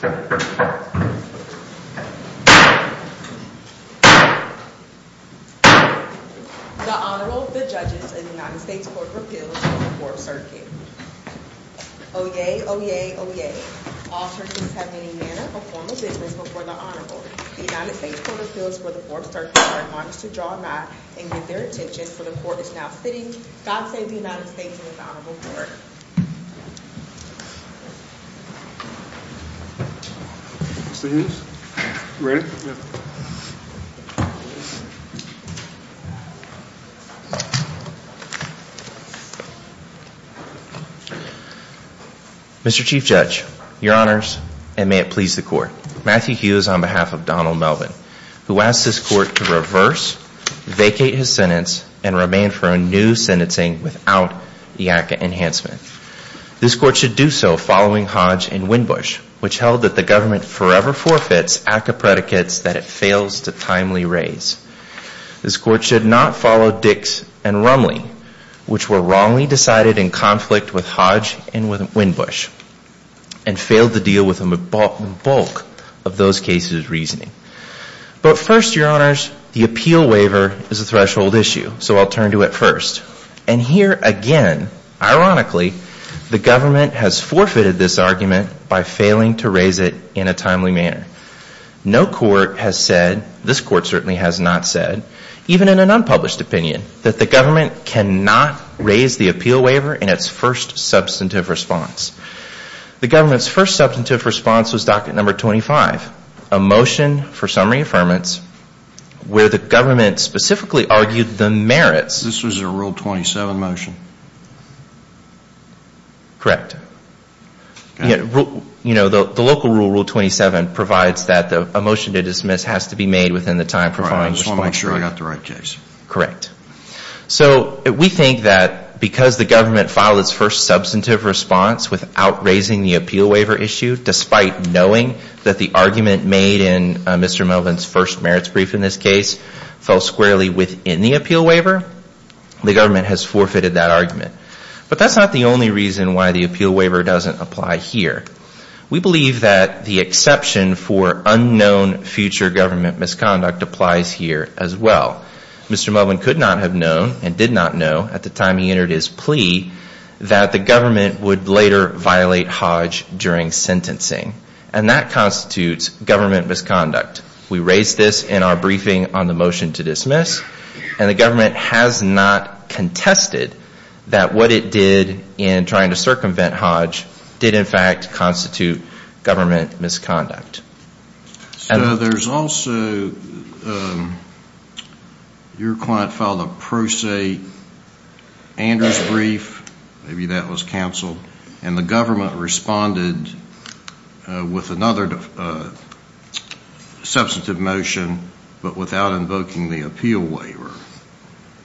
The Honorable, the Judges, and the United States Court of Appeals for the 4th Circuit. Oyez, oyez, oyez. All Circuits have any manner of formal business before the Honorable. The United States Court of Appeals for the 4th Circuit are admonished to draw a mat and give their attention, for the Court is now sitting, God Save the United States, in its Honorable Court. Mr. Hughes, you ready? Mr. Chief Judge, Your Honors, and may it please the Court. Matthew Hughes on behalf of Donald Melvin, who asks this Court to reverse, vacate his sentence, and remain for a new sentencing without the ACCA enhancement. This Court should do so following Hodge and Winbush, which held that the government forever forfeits ACCA predicates that it fails to timely raise. This Court should not follow Dix and Rumley, which were wrongly decided in conflict with Hodge and Winbush, and failed to deal with the bulk of those cases' reasoning. But first, Your Honors, the appeal waiver is a threshold issue, so I'll turn to it first. And here again, ironically, the government has forfeited this argument by failing to raise it in a timely manner. No court has said, this Court certainly has not said, even in an unpublished opinion, that the government cannot raise the appeal waiver in its first substantive response. The government's first substantive response was Docket Number 25, a motion for summary affirmance, where the government specifically argued the merits. This was a Rule 27 motion. Correct. You know, the local rule, Rule 27, provides that a motion to dismiss has to be made within the time provided. I just want to make sure I got the right case. Correct. So we think that because the government filed its first substantive response without raising the appeal waiver issue, despite knowing that the argument made in Mr. Melvin's first merits brief in this case fell squarely within the appeal waiver, the government has forfeited that argument. But that's not the only reason why the appeal waiver doesn't apply here. We believe that the exception for unknown future government misconduct applies here as well. Mr. Melvin could not have known, and did not know at the time he entered his plea, that the government would later violate Hodge during sentencing. And that constitutes government misconduct. We raised this in our briefing on the motion to dismiss, and the government has not contested that what it did in trying to circumvent Hodge did in fact constitute government misconduct. So there's also your client filed a Pro Se Anders brief, maybe that was counsel, and the government responded with another substantive motion but without invoking the appeal waiver.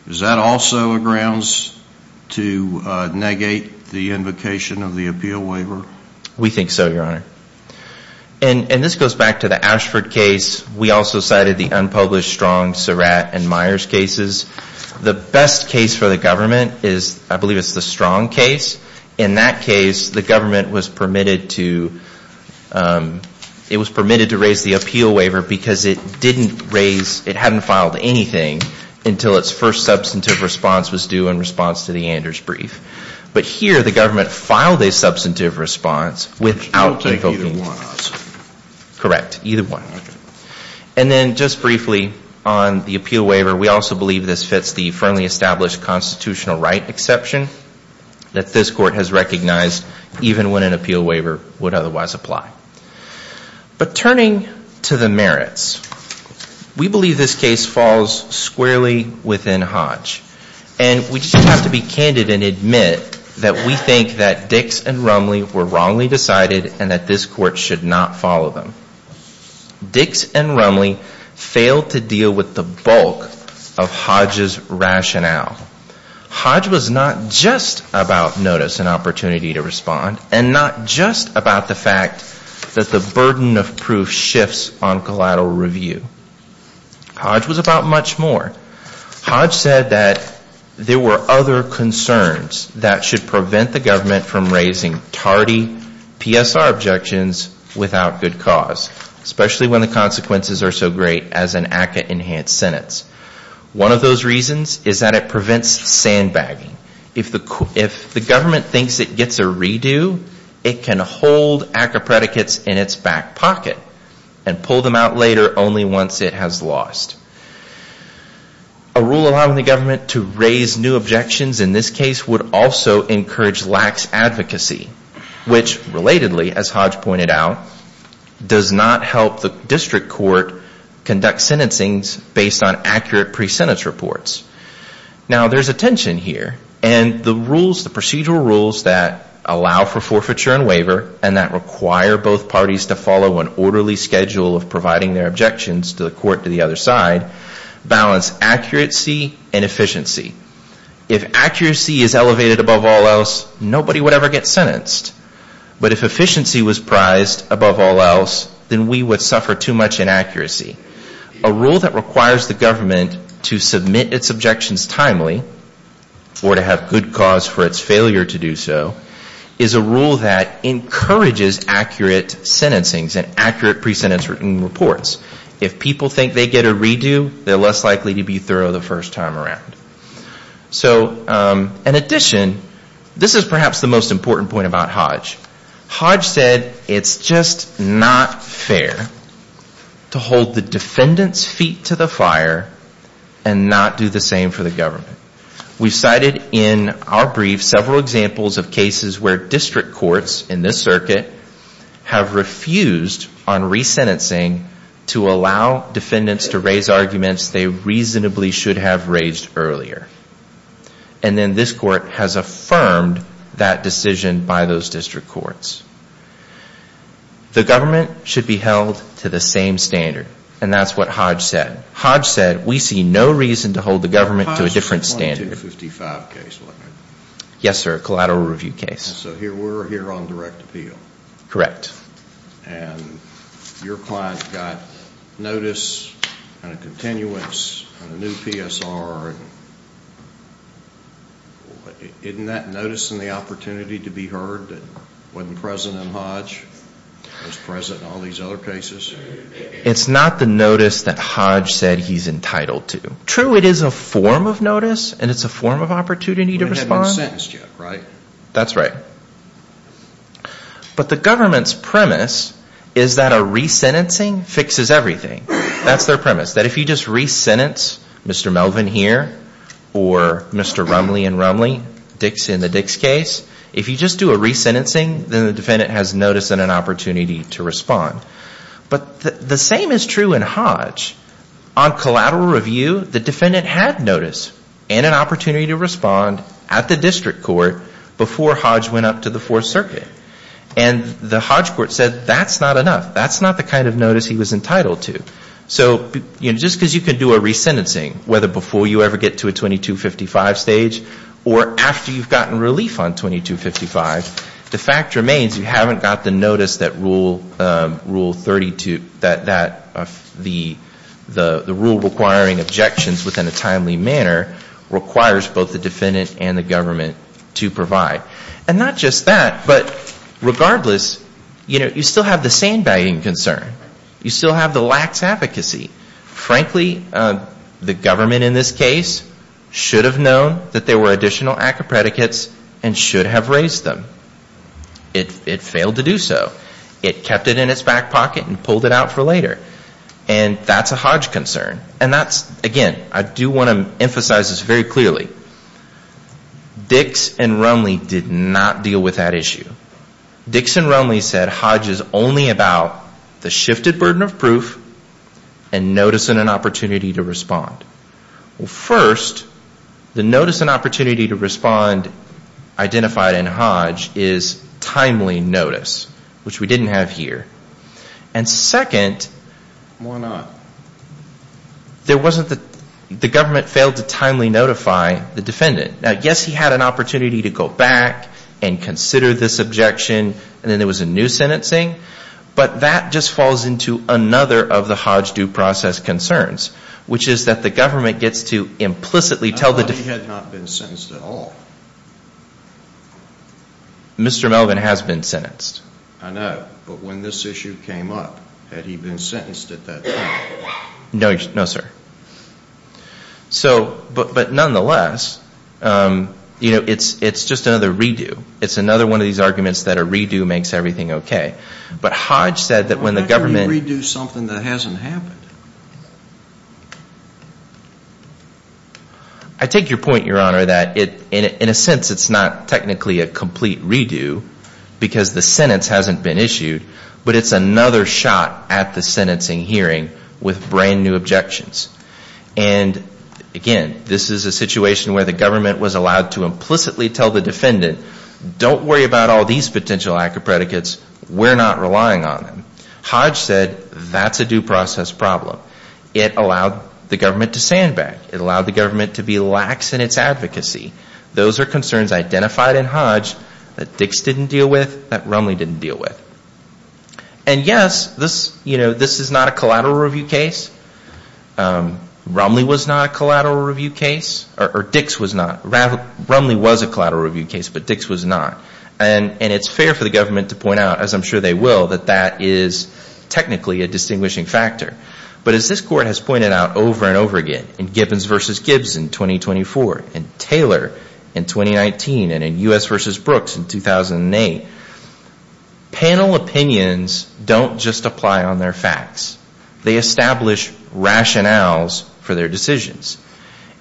Is that also a grounds to negate the invocation of the appeal waiver? We think so, Your Honor. And this goes back to the Ashford case. We also cited the unpublished Strong, Surratt, and Myers cases. The best case for the government is, I believe it's the Strong case. In that case, the government was permitted to raise the appeal waiver because it didn't raise, it hadn't filed anything until its first substantive response was due in response to the Anders brief. But here, the government filed a substantive response without invoking it. Correct. Either one. And then just briefly on the appeal waiver, we also believe this fits the firmly established constitutional right exception that this court has recognized even when an appeal waiver would otherwise apply. But turning to the merits, we believe this case falls squarely within Hodge. And we just have to be candid and admit that we think that Dix and Rumley were wrongly decided and that this court should not follow them. Dix and Rumley failed to deal with the bulk of Hodge's rationale. Hodge was not just about notice and opportunity to respond, and not just about the fact that the burden of proof shifts on collateral review. Hodge was about much more. Hodge said that there were other concerns that should prevent the government from raising tardy PSR objections without good cause, especially when the consequences are so great as an ACCA-enhanced sentence. One of those reasons is that it prevents sandbagging. If the government thinks it gets a redo, it can hold ACCA predicates in its back pocket and pull them out later only once it has lost. A rule allowing the government to raise new objections in this case would also encourage lax advocacy, which, relatedly, as Hodge pointed out, does not help the district court conduct sentencing based on accurate pre-sentence reports. Now, there's a tension here. And the rules, the procedural rules that allow for forfeiture and waiver and that require both parties to follow an orderly schedule of providing their objections to the court to the other side, balance accuracy and efficiency. If accuracy is elevated above all else, nobody would ever get sentenced. But if efficiency was prized above all else, then we would suffer too much inaccuracy. A rule that requires the government to submit its objections timely or to have good cause for its failure to do so is a rule that encourages accurate sentencing and accurate pre-sentence reports. If people think they get a redo, they're less likely to be thorough the first time around. So, in addition, this is perhaps the most important point about Hodge. Hodge said it's just not fair to hold the defendant's feet to the fire and not do the same for the government. We cited in our brief several examples of cases where district courts in this circuit have refused on re-sentencing to allow defendants to raise arguments they reasonably should have raised earlier. And then this court has affirmed that decision by those district courts. The government should be held to the same standard. And that's what Hodge said. Hodge said we see no reason to hold the government to a different standard. Yes, sir, a collateral review case. So we're here on direct appeal. Correct. And your client got notice and a continuance on a new PSR. Isn't that notice and the opportunity to be heard that wasn't present in Hodge? It was present in all these other cases? It's not the notice that Hodge said he's entitled to. True, it is a form of notice and it's a form of opportunity to respond. But it hasn't been sentenced yet, right? That's right. But the government's premise is that a re-sentencing fixes everything. That's their premise, that if you just re-sentence Mr. Melvin here or Mr. Rumley and Rumley, Dix in the Dix case, if you just do a re-sentencing, then the defendant has notice and an opportunity to respond. But the same is true in Hodge. On collateral review, the defendant had notice and an opportunity to respond at the district court before Hodge went up to the Fourth Circuit. And the Hodge court said that's not enough. That's not the kind of notice he was entitled to. So just because you can do a re-sentencing, whether before you ever get to a 2255 stage or after you've gotten relief on 2255, the fact remains you haven't got the notice that Rule 32, that the rule requiring objections within a timely manner requires both the defendant and the government to provide. And not just that, but regardless, you still have the sandbagging concern. You still have the lax advocacy. Frankly, the government in this case should have known that there were additional ACCA predicates and should have raised them. It failed to do so. It kept it in its back pocket and pulled it out for later. And that's a Hodge concern. And that's, again, I do want to emphasize this very clearly. Dix and Rumley did not deal with that issue. Dix and Rumley said Hodge is only about the shifted burden of proof and notice and an opportunity to respond. First, the notice and opportunity to respond identified in Hodge is timely notice, which we didn't have here. And second, the government failed to timely notify the defendant. Now, yes, he had an opportunity to go back and consider this objection, and then there was a new sentencing. But that just falls into another of the Hodge due process concerns, which is that the government gets to implicitly tell the defendant. I thought he had not been sentenced at all. Mr. Melvin has been sentenced. I know. But when this issue came up, had he been sentenced at that time? No, sir. So, but nonetheless, you know, it's just another redo. It's another one of these arguments that a redo makes everything okay. But Hodge said that when the government – Why can't you redo something that hasn't happened? I take your point, Your Honor, that in a sense it's not technically a complete redo because the sentence hasn't been issued, but it's another shot at the sentencing hearing with brand new objections. And, again, this is a situation where the government was allowed to implicitly tell the defendant, don't worry about all these potential active predicates. We're not relying on them. Hodge said that's a due process problem. It allowed the government to stand back. It allowed the government to be lax in its advocacy. Those are concerns identified in Hodge that Dix didn't deal with, that Rumley didn't deal with. And, yes, this is not a collateral review case. Rumley was not a collateral review case, or Dix was not. Rumley was a collateral review case, but Dix was not. And it's fair for the government to point out, as I'm sure they will, that that is technically a distinguishing factor. But as this Court has pointed out over and over again in Gibbons v. Gibbs in 2024 and Taylor in 2019 and in U.S. v. Brooks in 2008, panel opinions don't just apply on their facts. They establish rationales for their decisions.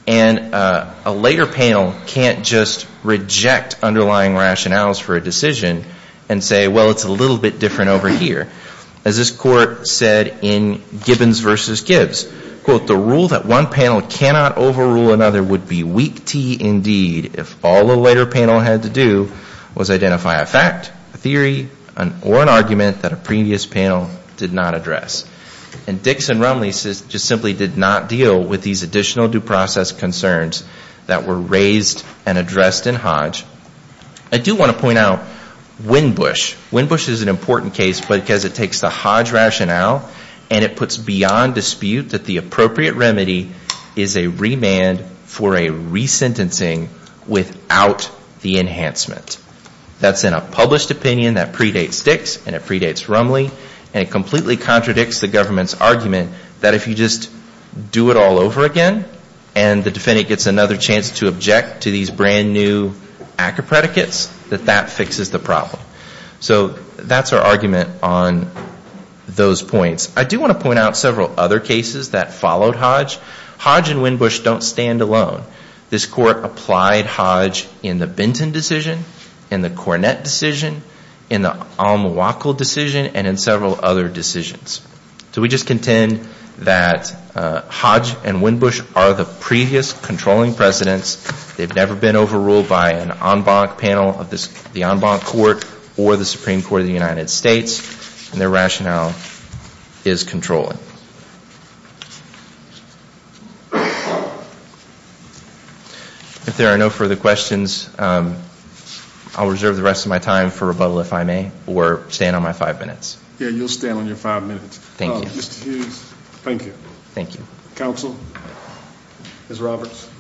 And a later panel can't just reject underlying rationales for a decision and say, well, it's a little bit different over here. As this Court said in Gibbons v. Gibbs, quote, the rule that one panel cannot overrule another would be weak tea indeed if all the later panel had to do was identify a fact, a theory, or an argument that a previous panel did not address. And Dix and Rumley just simply did not deal with these additional due process concerns that were raised and addressed in Hodge. I do want to point out Winbush. Winbush is an important case because it takes the Hodge rationale and it puts beyond dispute that the appropriate remedy is a remand for a resentencing without the enhancement. That's in a published opinion that predates Dix and it predates Rumley. And it completely contradicts the government's argument that if you just do it all over again and the defendant gets another chance to object to these brand new ACCA predicates, that that fixes the problem. So that's our argument on those points. I do want to point out several other cases that followed Hodge. Hodge and Winbush don't stand alone. This Court applied Hodge in the Benton decision, in the Cornett decision, in the Almawakal decision, and in several other decisions. So we just contend that Hodge and Winbush are the previous controlling presidents. They've never been overruled by an en banc panel of the en banc court or the Supreme Court of the United States. And their rationale is controlling. If there are no further questions, I'll reserve the rest of my time for rebuttal, if I may, or stand on my five minutes. Yeah, you'll stand on your five minutes. Thank you. Mr. Hughes, thank you. Thank you. Counsel, Ms. Roberts.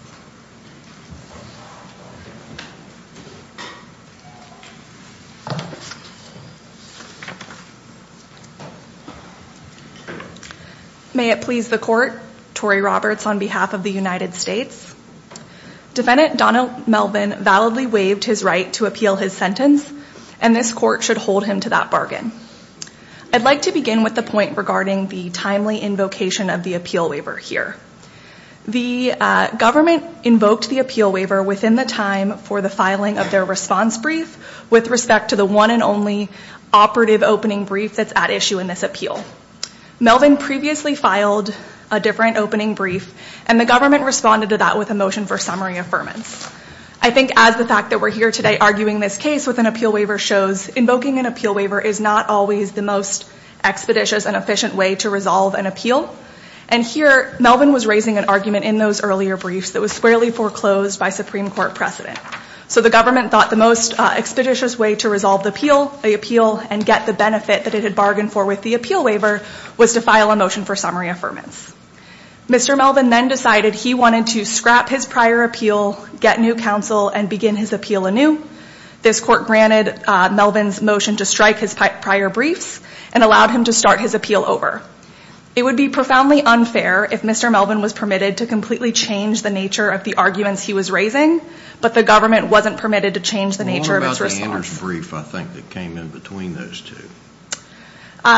May it please the Court, Tory Roberts on behalf of the United States. Defendant Donald Melvin validly waived his right to appeal his sentence, and this Court should hold him to that bargain. I'd like to begin with the point regarding the timely invocation of the appeal waiver here. The government invoked the appeal waiver within the time for the filing of their response brief with respect to the one and only operative opening brief that's at issue in this appeal. Melvin previously filed a different opening brief, and the government responded to that with a motion for summary affirmance. I think as the fact that we're here today arguing this case with an appeal waiver shows, invoking an appeal waiver is not always the most expeditious and efficient way to resolve an appeal. And here Melvin was raising an argument in those earlier briefs that was squarely foreclosed by Supreme Court precedent. So the government thought the most expeditious way to resolve the appeal and get the benefit that it had bargained for with the appeal waiver was to file a motion for summary affirmance. Mr. Melvin then decided he wanted to scrap his prior appeal, get new counsel, and begin his appeal anew. This Court granted Melvin's motion to strike his prior briefs and allowed him to start his appeal over. It would be profoundly unfair if Mr. Melvin was permitted to completely change the nature of the arguments he was raising, but the government wasn't permitted to change the nature of its response. What was the Anders brief, I think, that came in between those two?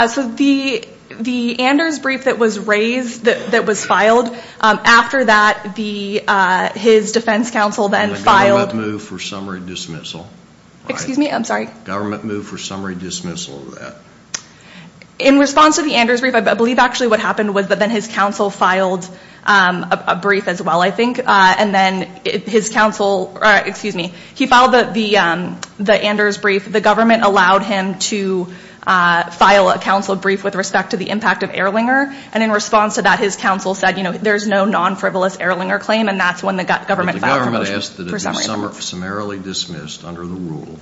So the Anders brief that was raised, that was filed, after that his defense counsel then filed. And the government moved for summary dismissal. Excuse me, I'm sorry. Government moved for summary dismissal of that. In response to the Anders brief, I believe actually what happened was that then his counsel filed a brief as well, I think. And then his counsel, excuse me, he filed the Anders brief. The government allowed him to file a counsel brief with respect to the impact of Ehrlinger. And in response to that, his counsel said, you know, there's no non-frivolous Ehrlinger claim, and that's when the government filed the motion for summary affirmance. But the government asked that it be summarily dismissed under the rule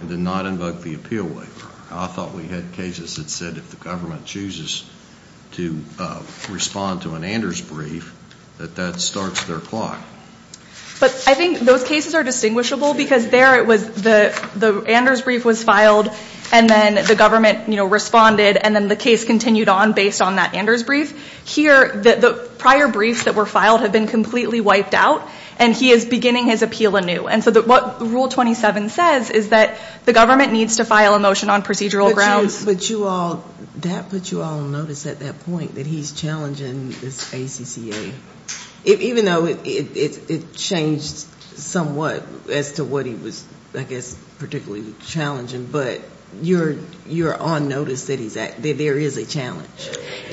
and did not invoke the appeal waiver. I thought we had cases that said if the government chooses to respond to an Anders brief, that that starts their clock. But I think those cases are distinguishable because there it was, the Anders brief was filed, and then the government, you know, responded, and then the case continued on based on that Anders brief. Here, the prior briefs that were filed have been completely wiped out, and he is beginning his appeal anew. And so what Rule 27 says is that the government needs to file a motion on procedural grounds. But you all, that puts you all on notice at that point that he's challenging this ACCA. Even though it changed somewhat as to what he was, I guess, particularly challenging, but you're on notice that there is a challenge.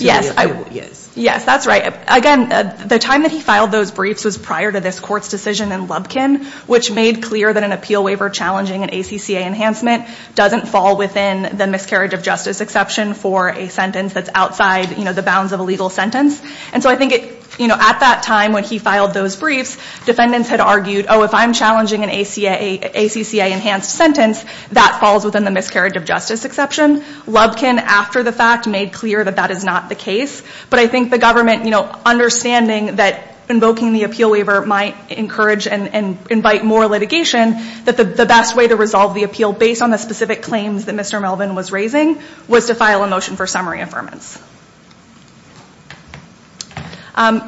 Yes. Yes, that's right. Again, the time that he filed those briefs was prior to this court's decision in Lubkin, which made clear that an appeal waiver challenging an ACCA enhancement doesn't fall within the miscarriage of justice exception for a sentence that's outside, you know, the bounds of a legal sentence. And so I think, you know, at that time when he filed those briefs, defendants had argued, oh, if I'm challenging an ACCA enhanced sentence, that falls within the miscarriage of justice exception. Lubkin, after the fact, made clear that that is not the case. But I think the government, you know, understanding that invoking the appeal waiver might encourage and invite more litigation, that the best way to resolve the appeal based on the specific claims that Mr. Melvin was raising was to file a motion for summary affirmance.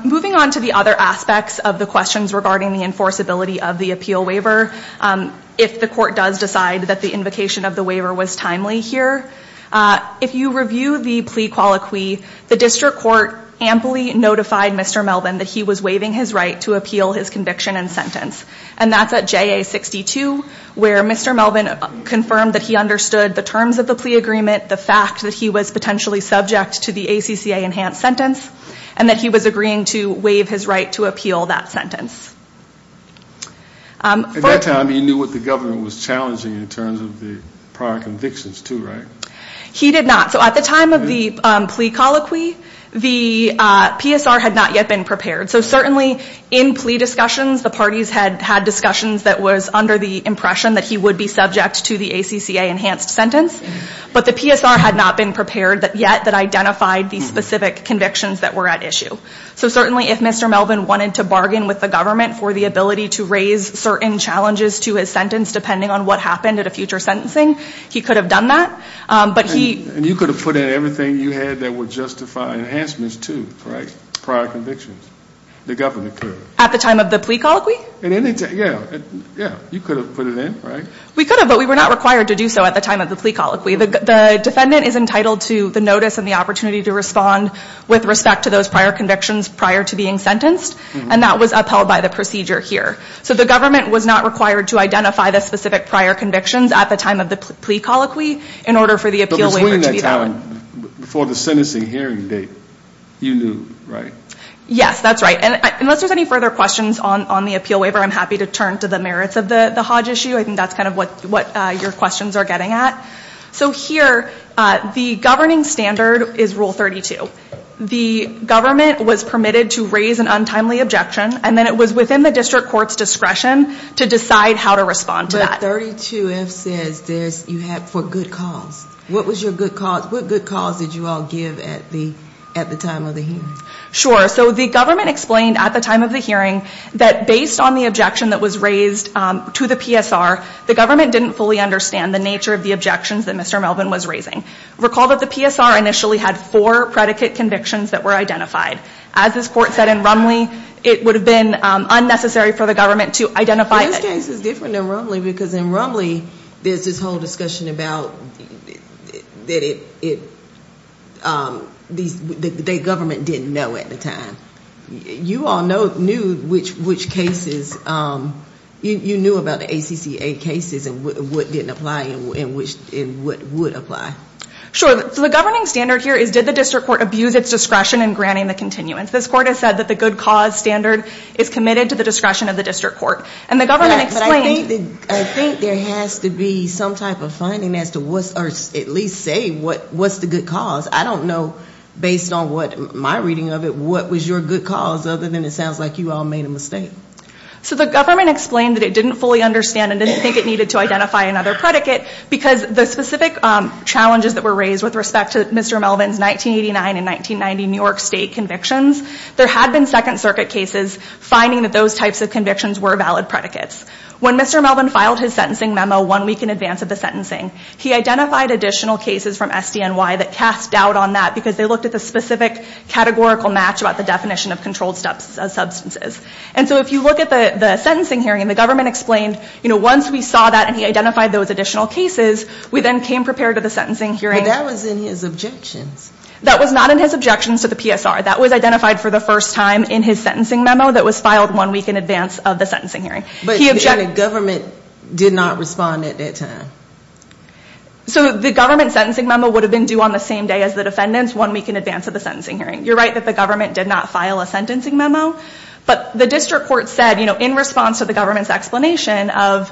Moving on to the other aspects of the questions regarding the enforceability of the appeal waiver, if the court does decide that the invocation of the waiver was timely here, if you review the plea colloquy, the district court amply notified Mr. Melvin that he was waiving his right to appeal his conviction and sentence. And that's at JA62, where Mr. Melvin confirmed that he understood the terms of the plea agreement, the fact that he was potentially subject to the ACCA enhanced sentence, and that he was agreeing to waive his right to appeal that sentence. At that time, he knew what the government was challenging in terms of the prior convictions, too, right? He did not. So at the time of the plea colloquy, the PSR had not yet been prepared. So certainly in plea discussions, the parties had had discussions that was under the impression that he would be subject to the ACCA enhanced sentence. But the PSR had not been prepared yet that identified the specific convictions that were at issue. So certainly if Mr. Melvin wanted to bargain with the government for the ability to raise certain challenges to his sentence, depending on what happened at a future sentencing, he could have done that. And you could have put in everything you had that would justify enhancements, too, right? Prior convictions. The government could have. At the time of the plea colloquy? Yeah. You could have put it in, right? We could have, but we were not required to do so at the time of the plea colloquy. The defendant is entitled to the notice and the opportunity to respond with respect to those prior convictions prior to being sentenced. And that was upheld by the procedure here. So the government was not required to identify the specific prior convictions at the time of the plea colloquy in order for the appeal waiver to be valid. But between that time and before the sentencing hearing date, you knew, right? Yes, that's right. And unless there's any further questions on the appeal waiver, I'm happy to turn to the merits of the Hodge issue. I think that's kind of what your questions are getting at. So here, the governing standard is Rule 32. The government was permitted to raise an untimely objection. And then it was within the district court's discretion to decide how to respond to that. But 32F says you have for good cause. What good cause did you all give at the time of the hearing? Sure. So the government explained at the time of the hearing that based on the objection that was raised to the PSR, the government didn't fully understand the nature of the objections that Mr. Melvin was raising. Recall that the PSR initially had four predicate convictions that were identified. As this court said in Rumley, it would have been unnecessary for the government to identify it. This case is different than Rumley because in Rumley, there's this whole discussion about that the government didn't know at the time. You all knew about the ACCA cases and what didn't apply and what would apply. Sure. So the governing standard here is did the district court abuse its discretion in granting the continuance? This court has said that the good cause standard is committed to the discretion of the district court. But I think there has to be some type of finding as to at least say what's the good cause. I don't know based on what my reading of it, what was your good cause other than it sounds like you all made a mistake. So the government explained that it didn't fully understand and didn't think it needed to identify another predicate because the specific challenges that were raised with respect to Mr. Melvin's 1989 and 1990 New York State convictions, there had been Second Circuit cases finding that those types of convictions were valid predicates. When Mr. Melvin filed his sentencing memo one week in advance of the sentencing, he identified additional cases from SDNY that cast doubt on that because they looked at the specific categorical match about the definition of controlled substances. And so if you look at the sentencing hearing, the government explained once we saw that and he identified those additional cases, we then came prepared to the sentencing hearing. But that was in his objections. That was not in his objections to the PSR. That was identified for the first time in his sentencing memo that was filed one week in advance of the sentencing hearing. But the government did not respond at that time. So the government sentencing memo would have been due on the same day as the defendants, one week in advance of the sentencing hearing. You're right that the government did not file a sentencing memo. But the district court said in response to the government's explanation of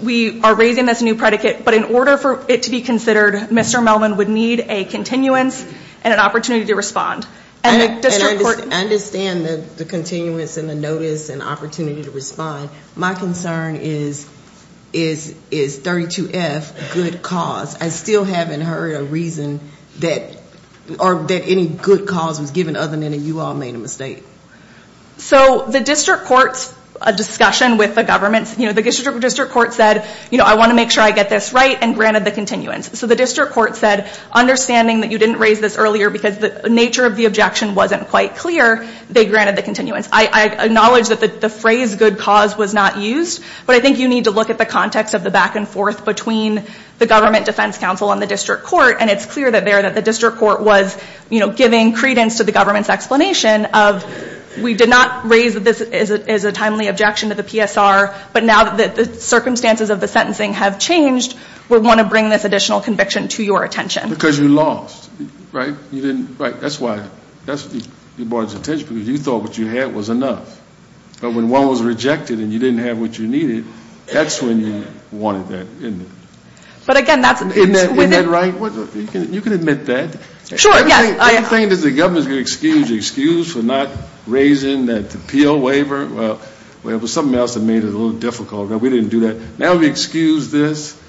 we are raising this new predicate, but in order for it to be considered, Mr. Melvin would need a continuance and an opportunity to respond. I understand the continuance and the notice and opportunity to respond. My concern is, is 32F a good cause? I still haven't heard a reason that any good cause was given other than that you all made a mistake. So the district court's discussion with the government, the district court said, I want to make sure I get this right and granted the continuance. So the district court said, understanding that you didn't raise this earlier because the nature of the objection wasn't quite clear, they granted the continuance. I acknowledge that the phrase good cause was not used, but I think you need to look at the context of the back and forth between the government defense counsel and the district court, and it's clear there that the district court was giving credence to the government's explanation of we did not raise this as a timely objection to the PSR, but now that the circumstances of the sentencing have changed, we want to bring this additional conviction to your attention. Because you lost, right? That's why you brought it to attention, because you thought what you had was enough. But when one was rejected and you didn't have what you needed, that's when you wanted that, isn't it? But again, that's within... Isn't that right? You can admit that. Sure, yes. I think that the government is going to excuse you, excuse for not raising that appeal waiver. Well, it was something else that made it a little difficult. We didn't do that. Now we excuse this.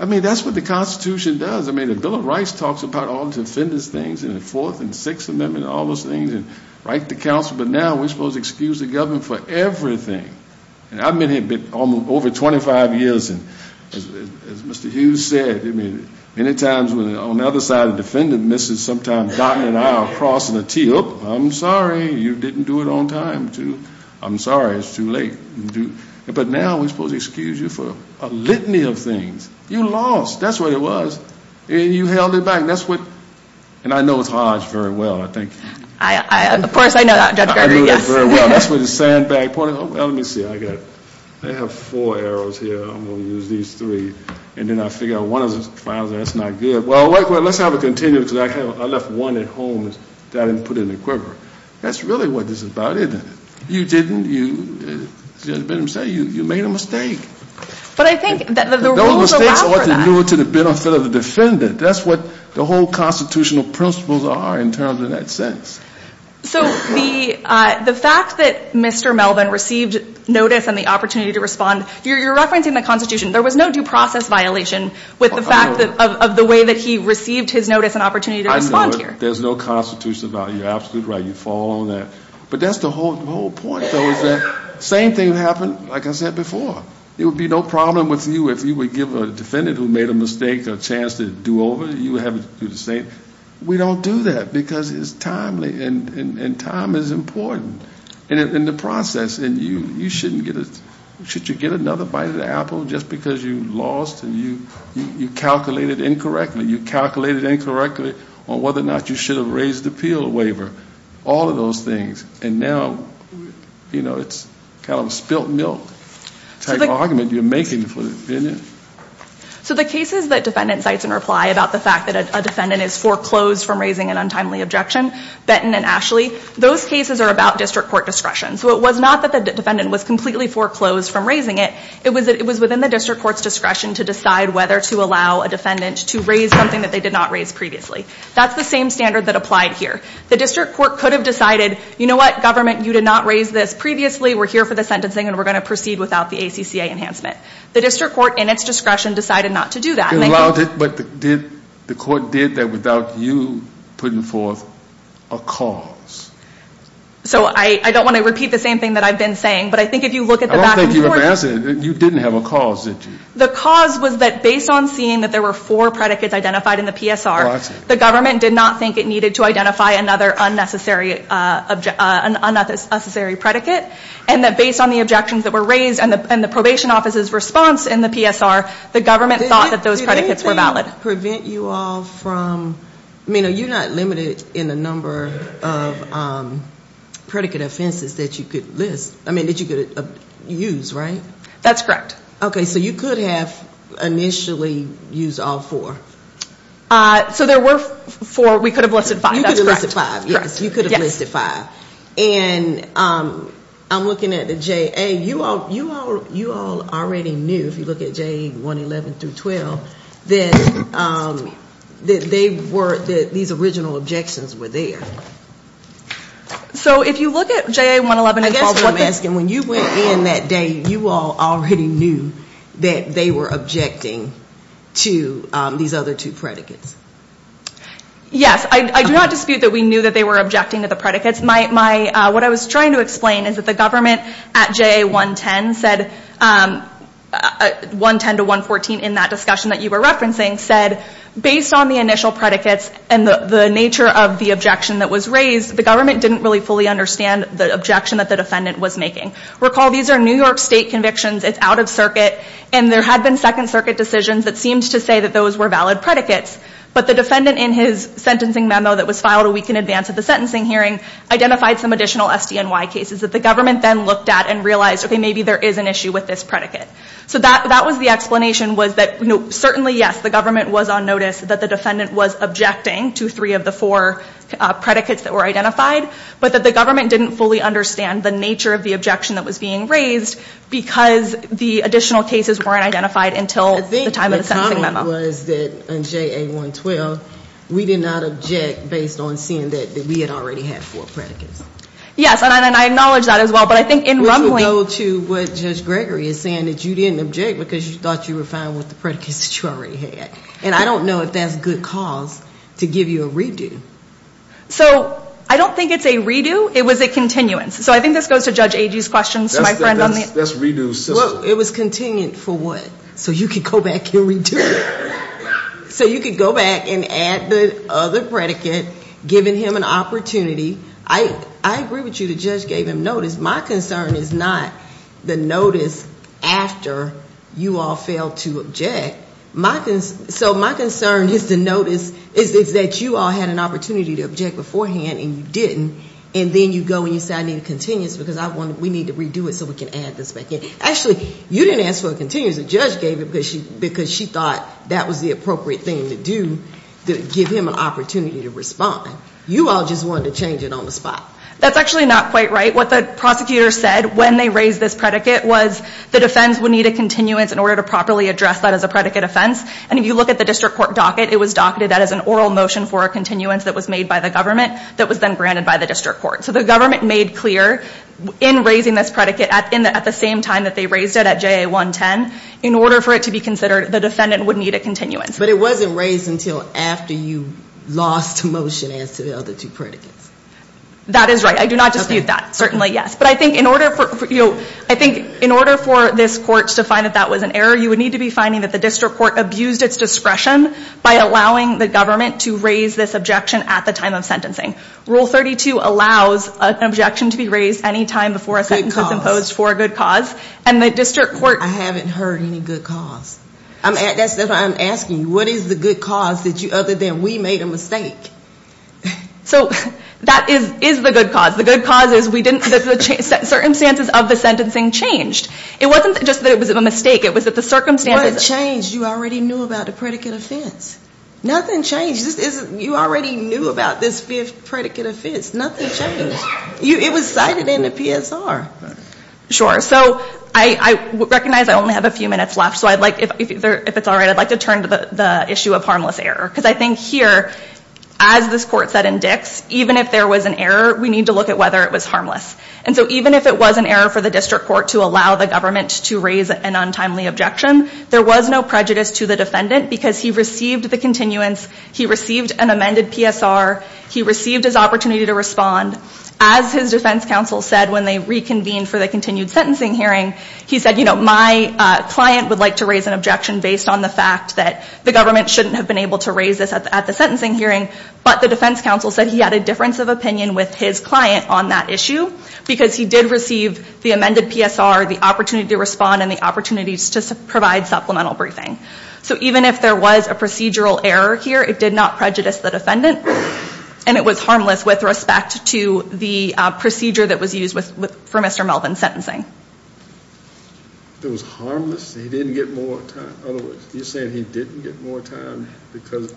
I mean, that's what the Constitution does. I mean, the Bill of Rights talks about all the defendant's things and the Fourth and Sixth Amendment and all those things, and right to counsel. But now we're supposed to excuse the government for everything. And I've been here over 25 years, and as Mr. Hughes said, I mean, many times when on the other side of the defendant misses, sometimes God and I are crossing the T. Oh, I'm sorry. You didn't do it on time, too. I'm sorry it's too late. But now we're supposed to excuse you for a litany of things. You lost. That's what it was. And you held it back. That's what... And I know it's hard very well, I think. Of course I know that, Judge Gerger, yes. I knew that very well. That's where the sandbag part... Well, let me see. I got... I have four arrows here. I'm going to use these three. And then I figure out one of the files, and that's not good. Well, let's have it continue, because I left one at home that I didn't put in the quiver. That's really what this is about, isn't it? You didn't. You, as Judge Benham said, you made a mistake. But I think that the rules allow for that. Those mistakes ought to be due to the benefit of the defendant. That's what the whole constitutional principles are in terms of that sense. So the fact that Mr. Melvin received notice and the opportunity to respond, you're referencing the Constitution. There was no due process violation with the fact of the way that he received his notice and opportunity to respond here. I know it. There's no Constitution about it. You're absolutely right. You fall on that. But that's the whole point, though, is that the same thing happened, like I said before. It would be no problem with you if you would give a defendant who made a mistake a chance to do over. You would have them do the same. We don't do that, because it's timely, and time is important in the process. And you shouldn't get a – should you get another bite of the apple just because you lost and you calculated incorrectly? You calculated incorrectly on whether or not you should have raised the appeal waiver, all of those things. And now, you know, it's kind of a spilt milk type argument you're making for the defendant. So the cases that defendant cites in reply about the fact that a defendant is foreclosed from raising an untimely objection, Benton and Ashley, those cases are about district court discretion. So it was not that the defendant was completely foreclosed from raising it. It was within the district court's discretion to decide whether to allow a defendant to raise something that they did not raise previously. That's the same standard that applied here. The district court could have decided, you know what, government, you did not raise this previously. We're here for the sentencing, and we're going to proceed without the ACCA enhancement. The district court, in its discretion, decided not to do that. But the court did that without you putting forth a cause. So I don't want to repeat the same thing that I've been saying. But I think if you look at the back of the court. I don't think you have an answer. You didn't have a cause, did you? The cause was that based on seeing that there were four predicates identified in the PSR, the government did not think it needed to identify another unnecessary predicate. And that based on the objections that were raised and the probation office's response in the PSR, the government thought that those predicates were valid. Does that prevent you all from, I mean, you're not limited in the number of predicate offenses that you could list. I mean, that you could use, right? That's correct. Okay, so you could have initially used all four. So there were four. We could have listed five. You could have listed five. Yes, you could have listed five. And I'm looking at the JA. You all already knew, if you look at JA111 through 12, that they were, that these original objections were there. So if you look at JA111. I guess what I'm asking, when you went in that day, you all already knew that they were objecting to these other two predicates. Yes. I do not dispute that we knew that they were objecting to the predicates. What I was trying to explain is that the government at JA110 said, 110 to 114, in that discussion that you were referencing, said, based on the initial predicates and the nature of the objection that was raised, the government didn't really fully understand the objection that the defendant was making. Recall, these are New York State convictions. It's out of circuit. And there had been Second Circuit decisions that seemed to say that those were valid predicates. But the defendant, in his sentencing memo that was filed a week in advance of the sentencing hearing, identified some additional SDNY cases that the government then looked at and realized, okay, maybe there is an issue with this predicate. So that was the explanation, was that certainly, yes, the government was on notice that the defendant was objecting to three of the four predicates that were identified, but that the government didn't fully understand the nature of the objection that was being raised because the additional cases weren't identified until the time of the sentencing memo. My question was that in JA 112, we did not object based on seeing that we had already had four predicates. Yes. And I acknowledge that as well. But I think in Rumbling. Which would go to what Judge Gregory is saying, that you didn't object because you thought you were fine with the predicates that you already had. And I don't know if that's good cause to give you a redo. So I don't think it's a redo. It was a continuance. So I think this goes to Judge Agee's question. That's a redo system. It was continued for what? So you could go back and redo it. So you could go back and add the other predicate, giving him an opportunity. I agree with you that Judge gave him notice. My concern is not the notice after you all failed to object. So my concern is the notice, is that you all had an opportunity to object beforehand and you didn't, and then you go and you say I need a continuance because we need to redo it so we can add this back in. Actually, you didn't ask for a continuance. The judge gave it because she thought that was the appropriate thing to do to give him an opportunity to respond. You all just wanted to change it on the spot. That's actually not quite right. What the prosecutor said when they raised this predicate was the defense would need a continuance in order to properly address that as a predicate offense. And if you look at the district court docket, it was docketed that as an oral motion for a continuance that was made by the government that was then granted by the district court. So the government made clear in raising this predicate at the same time that they raised it at JA 110, in order for it to be considered, the defendant would need a continuance. But it wasn't raised until after you lost motion as to the other two predicates. That is right. I do not dispute that. Certainly, yes. But I think in order for this court to find that that was an error, you would need to be finding that the district court abused its discretion by allowing the government to raise this objection at the time of sentencing. Rule 32 allows an objection to be raised any time before a sentence is imposed for a good cause. Good cause. And the district court... I haven't heard any good cause. That's why I'm asking you. What is the good cause other than we made a mistake? So that is the good cause. The good cause is that the circumstances of the sentencing changed. It wasn't just that it was a mistake. It was that the circumstances... What changed? You already knew about the predicate offense. Nothing changed. It was cited in the PSR. Sure. So I recognize I only have a few minutes left. So if it's all right, I'd like to turn to the issue of harmless error. Because I think here, as this court said in Dix, even if there was an error, we need to look at whether it was harmless. And so even if it was an error for the district court to allow the government to raise an untimely objection, there was no prejudice to the defendant because he received the continuance, he received an amended PSR, he received his opportunity to respond. As his defense counsel said when they reconvened for the continued sentencing hearing, he said, you know, my client would like to raise an objection based on the fact that the government shouldn't have been able to raise this at the sentencing hearing. But the defense counsel said he had a difference of opinion with his client on that issue because he did receive the amended PSR, the opportunity to respond, and the opportunities to provide supplemental briefing. So even if there was a procedural error here, it did not prejudice the defendant. And it was harmless with respect to the procedure that was used for Mr. Melvin's sentencing. It was harmless? He didn't get more time? You're saying he didn't get more time because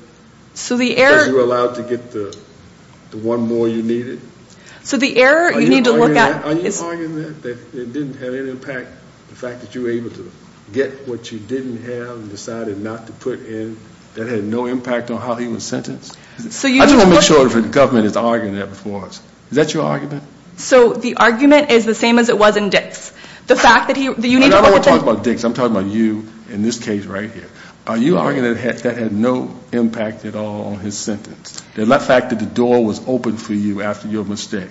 you were allowed to get the one more you needed? So the error, you need to look at... Are you arguing that it didn't have any impact, the fact that you were able to get what you didn't have and decided not to put in, that had no impact on how he was sentenced? I just want to make sure that the government is arguing that before us. Is that your argument? So the argument is the same as it was in Dix. I don't want to talk about Dix. I'm talking about you in this case right here. Are you arguing that that had no impact at all on his sentence, the fact that the door was opened for you after your mistake?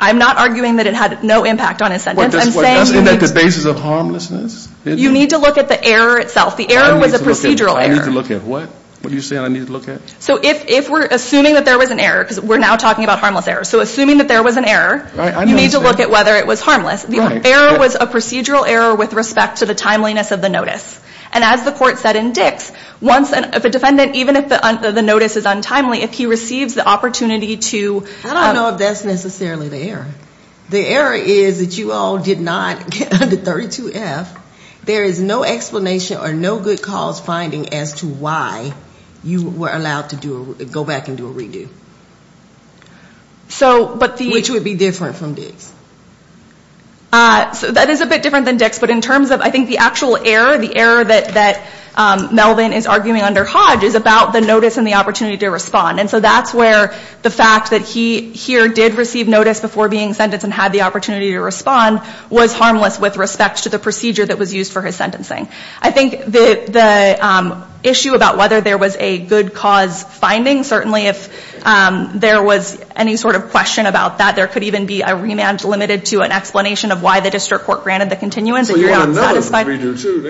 I'm not arguing that it had no impact on his sentence. Isn't that the basis of harmlessness? You need to look at the error itself. The error was a procedural error. I need to look at what? What are you saying I need to look at? So if we're assuming that there was an error, because we're now talking about harmless errors, so assuming that there was an error, you need to look at whether it was harmless. The error was a procedural error with respect to the timeliness of the notice. And as the court said in Dix, if a defendant, even if the notice is untimely, if he receives the opportunity to... I don't know if that's necessarily the error. The error is that you all did not get under 32F. There is no explanation or no good cause finding as to why you were allowed to go back and do a redo. Which would be different from Dix. That is a bit different than Dix, but in terms of I think the actual error, the error that Melvin is arguing under Hodge is about the notice and the opportunity to respond. And so that's where the fact that he here did receive notice before being sentenced and had the opportunity to respond was harmless with respect to the procedure that was used for his sentencing. I think the issue about whether there was a good cause finding, certainly if there was any sort of question about that, there could even be a remand limited to an explanation of why the district court granted the continuance. So you want a notice to redo too?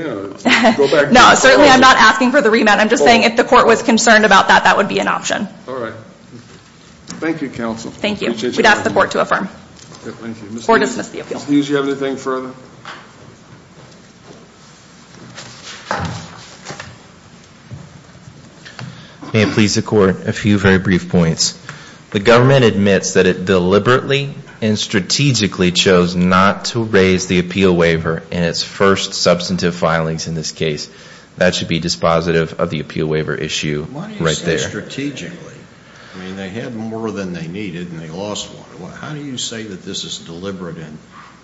No, certainly I'm not asking for the remand. I'm just saying if the court was concerned about that, that would be an option. All right. Thank you, counsel. Thank you. We'd ask the court to affirm. Thank you. Or dismiss the appeal. Ms. Hughes, do you have anything further? May it please the court, a few very brief points. The government admits that it deliberately and strategically chose not to raise the appeal waiver in its first substantive filings in this case. That should be dispositive of the appeal waiver issue right there. Why do you say strategically? I mean, they had more than they needed and they lost one. How do you say that this is deliberate and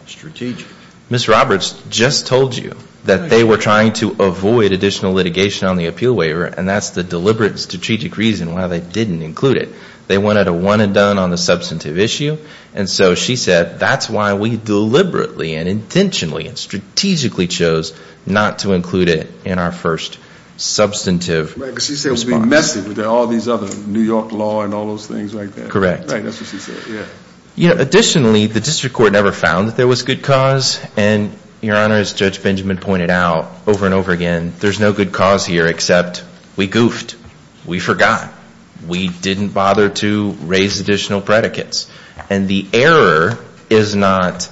strategic? Ms. Roberts just told you that they were trying to avoid additional litigation on the appeal waiver and that's the deliberate and strategic reason why they didn't include it. They wanted a one and done on the substantive issue, and so she said that's why we deliberately and intentionally and strategically chose not to include it in our first substantive response. Right. Because she said it would be messy with all these other New York law and all those things like that. Correct. Right. That's what she said. Yeah. Additionally, the district court never found that there was good cause, and, Your Honor, as Judge Benjamin pointed out over and over again, there's no good cause here except we goofed. We forgot. We didn't bother to raise additional predicates. And the error is not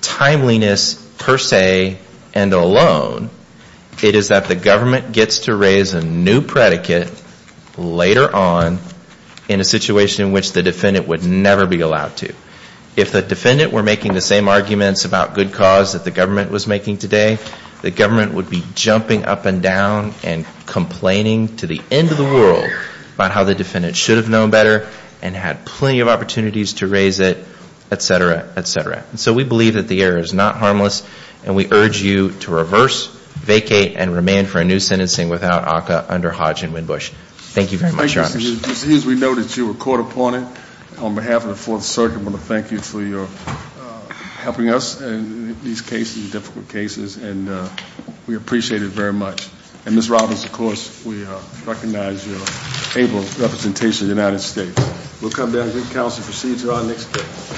timeliness per se and alone. It is that the government gets to raise a new predicate later on in a situation in which the defendant would never be allowed to. If the defendant were making the same arguments about good cause that the government was making today, the government would be jumping up and down and complaining to the end of the world about how the defendant should have known better and had plenty of opportunities to raise it, et cetera, et cetera. And so we believe that the error is not harmless, and we urge you to reverse, vacate, and remand for a new sentencing without ACCA under Hodge and Winbush. Thank you very much, Your Honor. Thank you. Just as we know that you were caught upon it, on behalf of the Fourth Circuit, I want to thank you for helping us in these cases, difficult cases, and we appreciate it very much. And Ms. Robbins, of course, we recognize your able representation in the United States. We'll come down and get counsel to proceed to our next case.